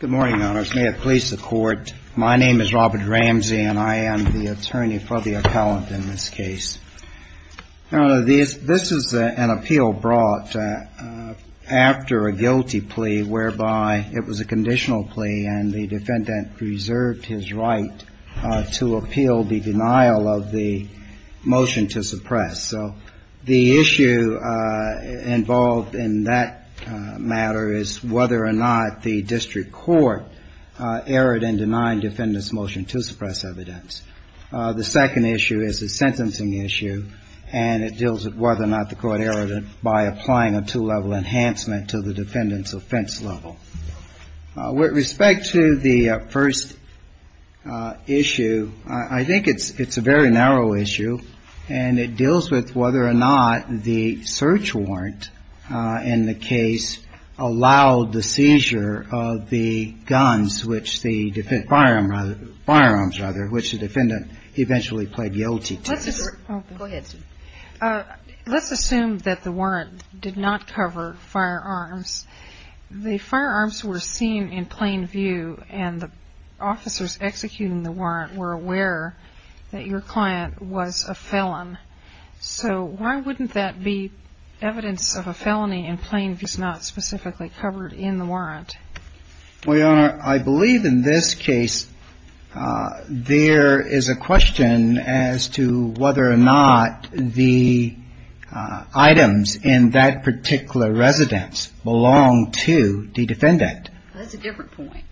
Good morning, may it please the court. My name is Robert Ramsey and I am the attorney for the appellant in this case. This is an appeal brought after a guilty plea whereby it was a conditional plea and the defendant preserved his right to appeal the denial of the motion to suppress. So the issue involved in that matter is whether or not the district court erred in denying the defendant's motion to suppress evidence. The second issue is a sentencing issue and it deals with whether or not the court erred by applying a two-level enhancement to the defendant's offense level. With respect to the first issue, I think it's a very narrow issue and it deals with whether or not the search warrant in the case allowed the seizure of the guns which the firearms, rather, which the defendant eventually pled guilty to. Let's assume that the warrant did not cover firearms. The firearms were seen in plain view and the officers executing the warrant were aware that your client was a felon. So why wouldn't that be evidence of a felony in plain view and not specifically covered in the warrant? Well, Your Honor, I believe in this case there is a question as to whether or not the items in that particular residence belonged to the defendant. That's a different point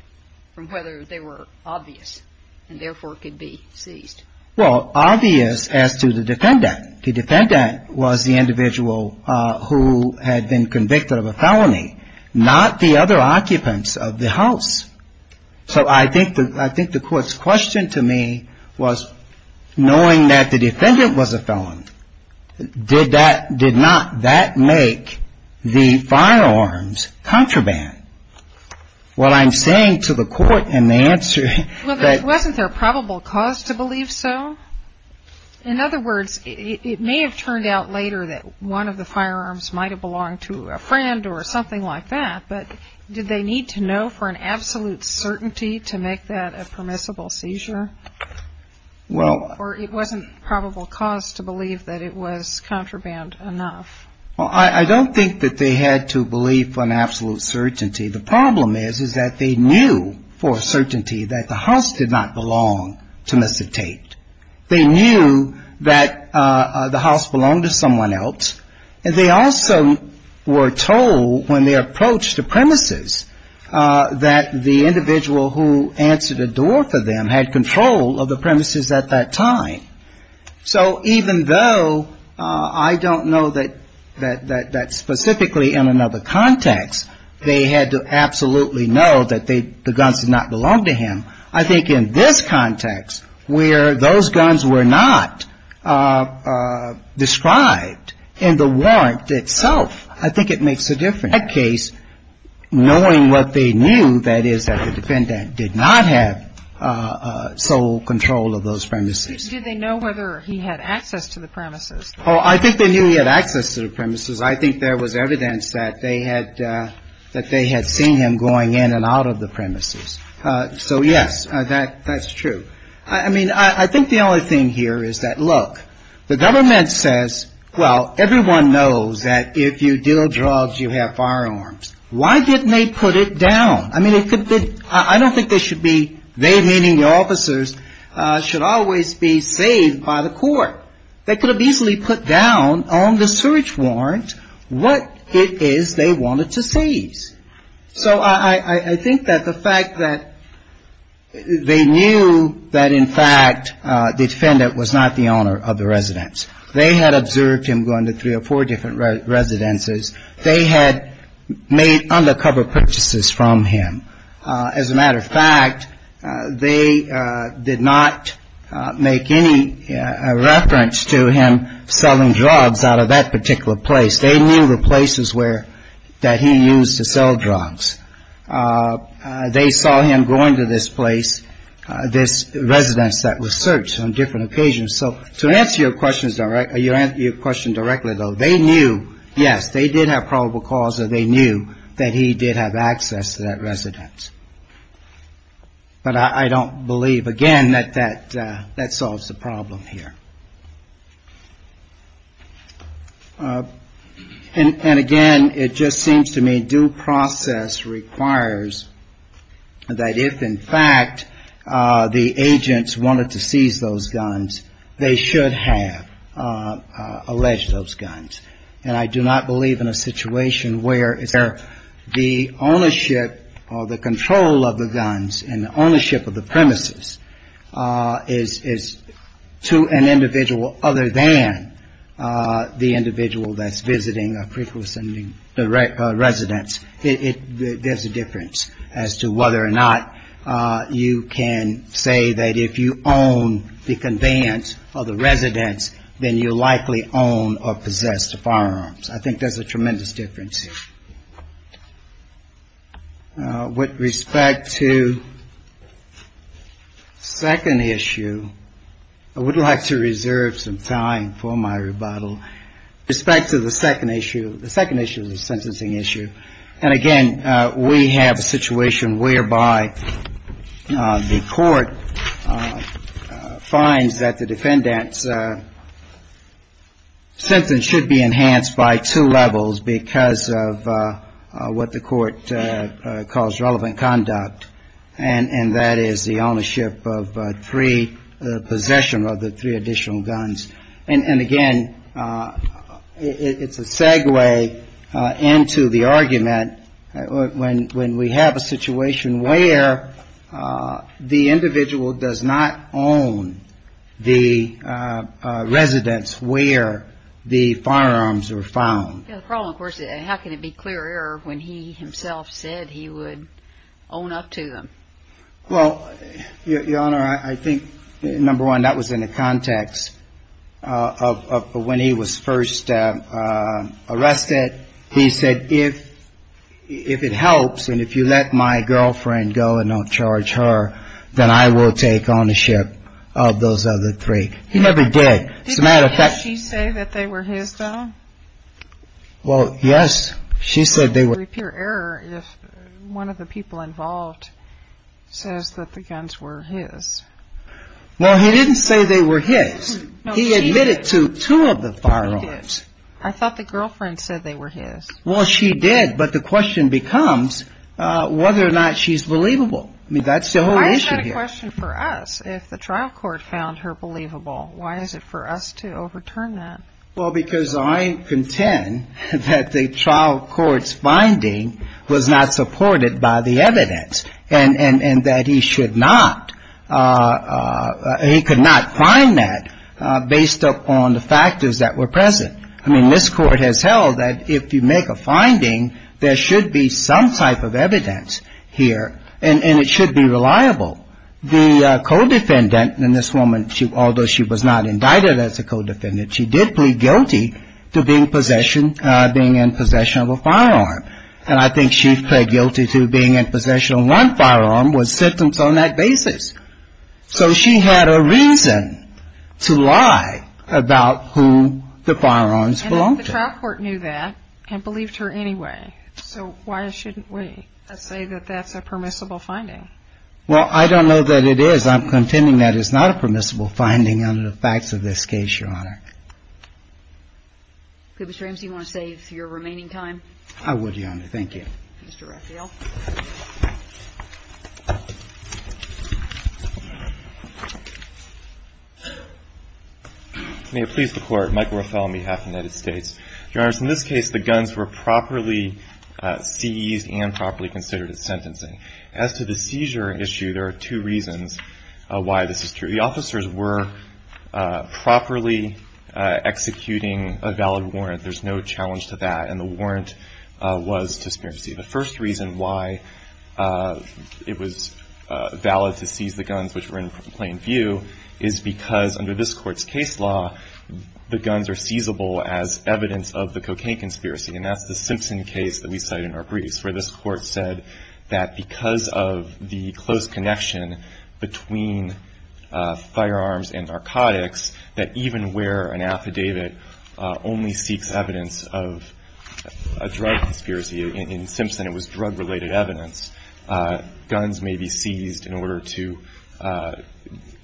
from whether they were obvious and therefore could be seized. Well, obvious as to the defendant. The defendant was the individual who had been convicted of a felony, not the other occupants of the house. So I think the court's question to me was, knowing that the defendant was a felon, did that, did not that make the firearms contraband? Well, I'm saying to the court in the answer that... Well, wasn't there a probable cause to believe so? In other words, it may have turned out later that one of the firearms might have belonged to a friend or something like that, but did they need to know for an absolute certainty to make that a permissible seizure? Well... Or it wasn't probable cause to believe that it was contraband enough? Well, I don't think that they had to believe for an absolute certainty. The problem is, is that they knew for a certainty that the house did not belong to Mr. Tate. They knew that the house belonged to someone else. And they also were told when they approached the premises that the individual who answered the door for them had control of the premises at that time. So even though I don't know that specifically in another context they had to absolutely know that the guns did not belong to him, I think in this context where those guns were not described in the warrant itself, I think it makes a difference. knowing what they knew, that is, that the defendant did not have sole control of those premises. Did they know whether he had access to the premises? Oh, I think they knew he had access to the premises. I think there was evidence that they had seen him going in and out of the premises. So, yes, that's true. I mean, I think the only thing here is that, look, the government says, well, everyone knows that if you deal drugs, you have firearms. Why didn't they put it down? I mean, I don't think they should be, they meaning the officers, should always be saved by the court. They could have easily put down on the search warrant what it is they wanted to seize. So I think that the fact that they knew that, in fact, the defendant was not the owner of the residence. They had observed him going to three or four different residences. They had made undercover purchases from him. As a matter of fact, they did not make any reference to him selling drugs out of that particular place. They knew the places where, that he used to sell drugs. They saw him going to this place, this residence that was searched on different occasions. So to answer your question directly, though, they knew, yes, they did have probable cause, that they knew that he did have access to that residence. But I don't believe, again, that that solves the problem here. And again, it just seems to me due process requires that if, in fact, the agents wanted to seize those guns, they should have alleged those guns. And I do not believe in a situation where the ownership or the control of the guns and the ownership of the premises is to an individual other than the individual that's visiting a preclusive residence. There's a difference as to whether or not you can say that if you own the conveyance of the residence, then you likely own or possess the firearms. I think there's a tremendous difference here. With respect to the second issue, I would like to reserve some time for my rebuttal. With respect to the second issue, the second issue is a sentencing issue. And again, we have a situation whereby the court finds that the defendants, sentencing should be enhanced by two levels because of what the court calls relevant conduct, and that is the ownership of three, possession of the three additional guns. And again, it's a segue into the argument when we have a situation where the individual does not own the residence, where the firearms are found. The problem, of course, is how can it be clear error when he himself said he would own up to them? Well, Your Honor, I think, number one, that was in the context of when he was first arrested. He said, if it helps and if you let my girlfriend go and don't charge her, then I will take ownership of those other three. He never did. As a matter of fact... Did she say that they were his, though? Well, yes, she said they were. Repair error if one of the people involved says that the guns were his. Well, he didn't say they were his. He admitted to two of the firearms. I thought the girlfriend said they were his. Well, she did, but the question becomes whether or not she's believable. I mean, that's the whole issue here. But that's the question for us. If the trial court found her believable, why is it for us to overturn that? Well, because I contend that the trial court's finding was not supported by the evidence and that he should not, he could not find that based upon the factors that were present. I mean, this Court has held that if you make a finding, there should be some type of evidence here, and it should be reliable. The co-defendant in this woman, although she was not indicted as a co-defendant, she did plead guilty to being in possession of a firearm. And I think she pled guilty to being in possession of one firearm with symptoms on that basis. So she had a reason to lie about who the firearms belonged to. And the trial court knew that and believed her anyway, so why shouldn't we say that that's a permissible finding? Well, I don't know that it is. I'm contending that it's not a permissible finding under the facts of this case, Your Honor. Ms. James, do you want to save your remaining time? I would, Your Honor. Thank you. Mr. Raphael. May it please the Court. Michael Raphael on behalf of the United States. Your Honor, in this case, the guns were properly seized and properly considered at sentencing. As to the seizure issue, there are two reasons why this is true. The officers were properly executing a valid warrant. There's no challenge to that, and the warrant was to conspiracy. The first reason why it was valid to seize the guns, which were in plain view, is because under this Court's case law, the guns are seizable as evidence of the cocaine conspiracy. And that's the Simpson case that we cite in our briefs, where this Court said that because of the close connection between firearms and narcotics, that even where an affidavit only seeks evidence of a drug conspiracy, in Simpson it was drug-related evidence. Guns may be seized in order to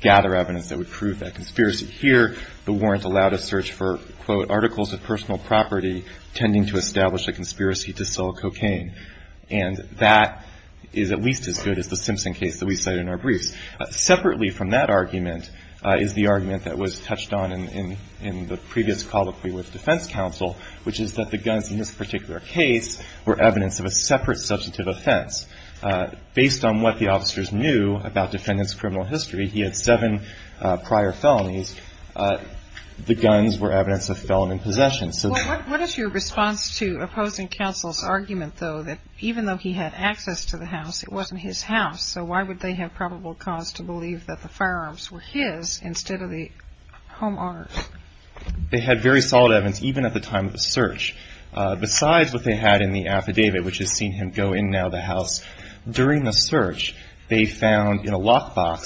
gather evidence that would prove that conspiracy. Here, the warrant allowed a search for, quote, articles of personal property tending to establish a conspiracy to sell cocaine. And that is at least as good as the Simpson case that we cite in our briefs. Separately from that argument is the argument that was touched on in the previous colloquy with defense counsel, which is that the guns in this particular case were evidence of a separate substantive offense. Based on what the officers knew about defendant's criminal history, he had seven prior felonies. The guns were evidence of felony possession. What is your response to opposing counsel's argument, though, that even though he had access to the house, it wasn't his house, so why would they have probable cause to believe that the firearms were his instead of the homeowners? They had very solid evidence, even at the time of the search. Besides what they had in the affidavit, which has seen him go in now the house, and with his paperwork in the lockbox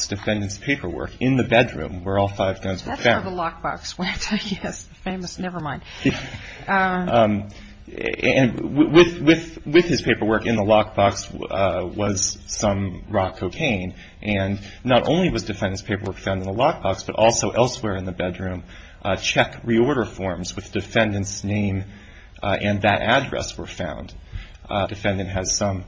was some raw cocaine. And not only was defendant's paperwork found in the lockbox, but also elsewhere in the bedroom. Check reorder forms with defendant's name and that address were found. Defendant has some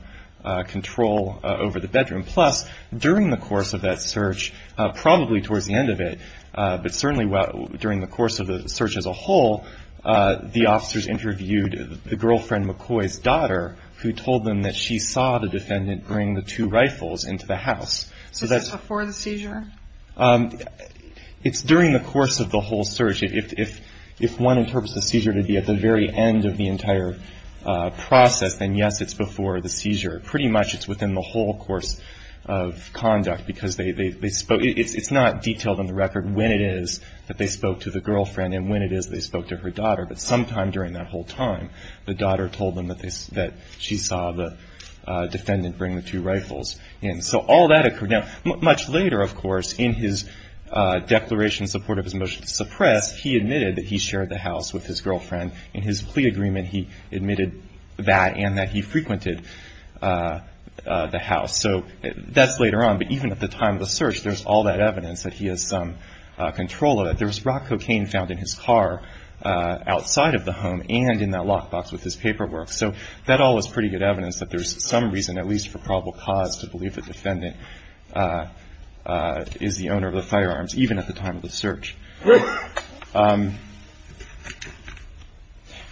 control over the bedroom. Plus, during the course of that search, probably towards the end of it, but certainly during the course of the search as a whole, the officers interviewed the girlfriend, McCoy's daughter, who told them that she saw the defendant bring the two rifles into the house. So that's before the seizure? It's during the course of the whole search. If one interprets the seizure to be at the very end of the entire process, then yes, it's before the seizure. Pretty much it's within the whole course of conduct, because it's not detailed in the record when it is that they spoke to the girlfriend and when it is they spoke to her daughter, but sometime during that whole time, the daughter told them that she saw the defendant bring the two rifles in. So all that occurred. Now, much later, of course, in his declaration in support of his motion to suppress, he admitted that he shared the house with his girlfriend. In his plea agreement, he admitted that and that he frequented the house. So that's later on, but even at the time of the search, there's all that evidence that he has some control of it. There's rock cocaine found in his car outside of the home and in that lockbox with his paperwork. So that all is pretty good evidence that there's some reason, at least for probable cause, to believe the defendant is the owner of the firearms, even at the time of the search.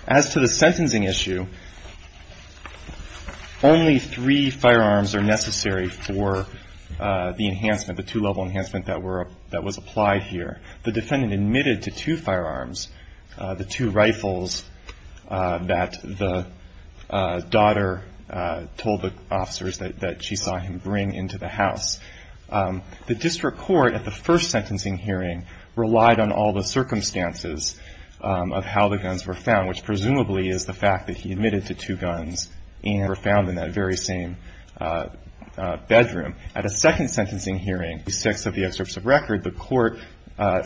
As to the sentencing issue, only three firearms are necessary for the enhancement, the two-level enhancement that was applied here. The defendant admitted to two firearms, the two rifles that the daughter told the officers that she saw him bring into the house. The district court at the first sentencing hearing relied on all the circumstances of how the guns were found, which presumably is the fact that he admitted to two guns and were found in that very same bedroom. At a second sentencing hearing, 6 of the excerpts of record, the court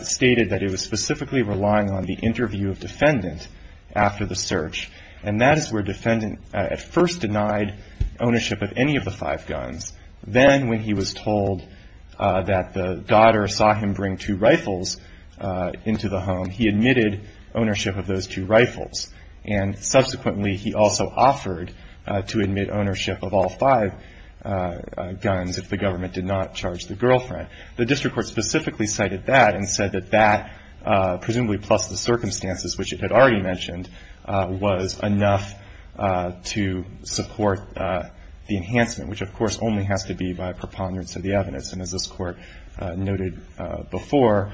stated that it was specifically relying on the interview of defendant after the search. And that is where defendant at first denied ownership of any of the five guns. Then when he was told that the daughter saw him bring two rifles into the home, he admitted ownership of those two rifles. And subsequently he also offered to admit ownership of all five guns if the government did not charge the girlfriend. The district court specifically cited that and said that that, presumably plus the circumstances, which it had already mentioned, was enough to support the enhancement, which of course only has to be by preponderance of the evidence. And as this court noted before,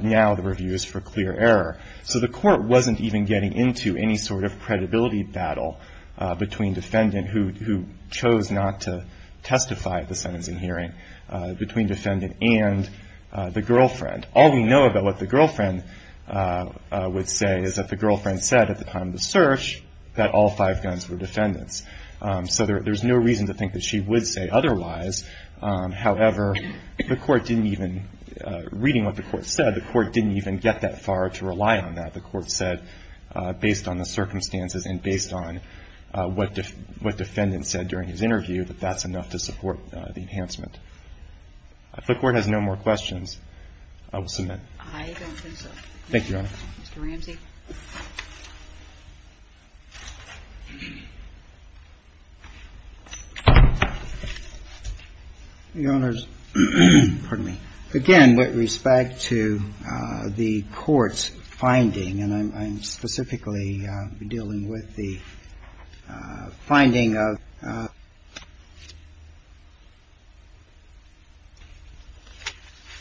now the review is for clear error. So the court wasn't even getting into any sort of credibility battle between defendant, who chose not to testify at the sentencing hearing, between defendant and the girlfriend. All we know about what the girlfriend would say is that the girlfriend said at the time of the search that all five guns were defendants. So there's no reason to think that she would say otherwise. However, reading what the court said, the court didn't even get that far to rely on that. The court said, based on the circumstances and based on what defendant said during his interview, that that's enough to support the enhancement. If the court has no more questions, I will submit. I don't think so. Thank you, Your Honor. Mr. Ramsey. Your Honors, pardon me. Again, with respect to the court's finding, and I'm specifically dealing with the finding of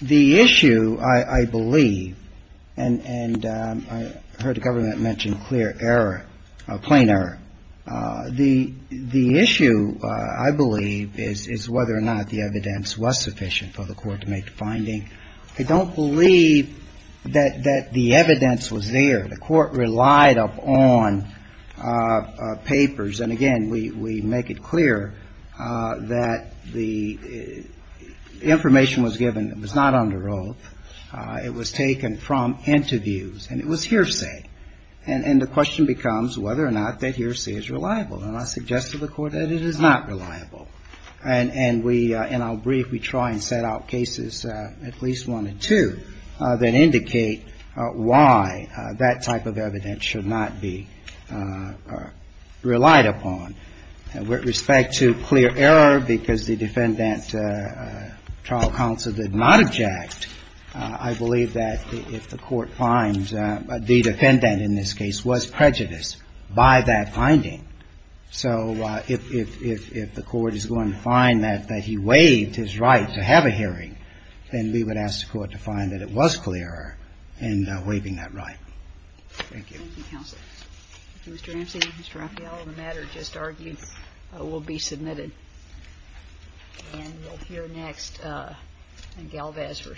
the issue, I believe, and I heard the government mention clear error, plain error. The issue, I believe, is whether or not the evidence was sufficient for the court to make the finding. I don't believe that the evidence was there. The court relied upon papers. And again, we make it clear that the information was given. It was not under oath. It was taken from interviews. And it was hearsay. And the question becomes whether or not that hearsay is reliable. And I suggest to the court that it is not reliable. And we – in our brief, we try and set out cases, at least one or two, that indicate why that type of evidence should not be relied upon. With respect to clear error, because the defendant, trial counsel, did not object, I believe that if the court finds – the defendant, in this case, was prejudiced by that finding. So if the court is going to find that he waived his right to have a hearing, then we would ask the court to find that it was clear error in waiving that right. Thank you. Thank you, Counsel. Mr. Ramsey, Mr. Raffaello, the matter just argued will be submitted. And we'll hear next Galvez v. Ashcroft.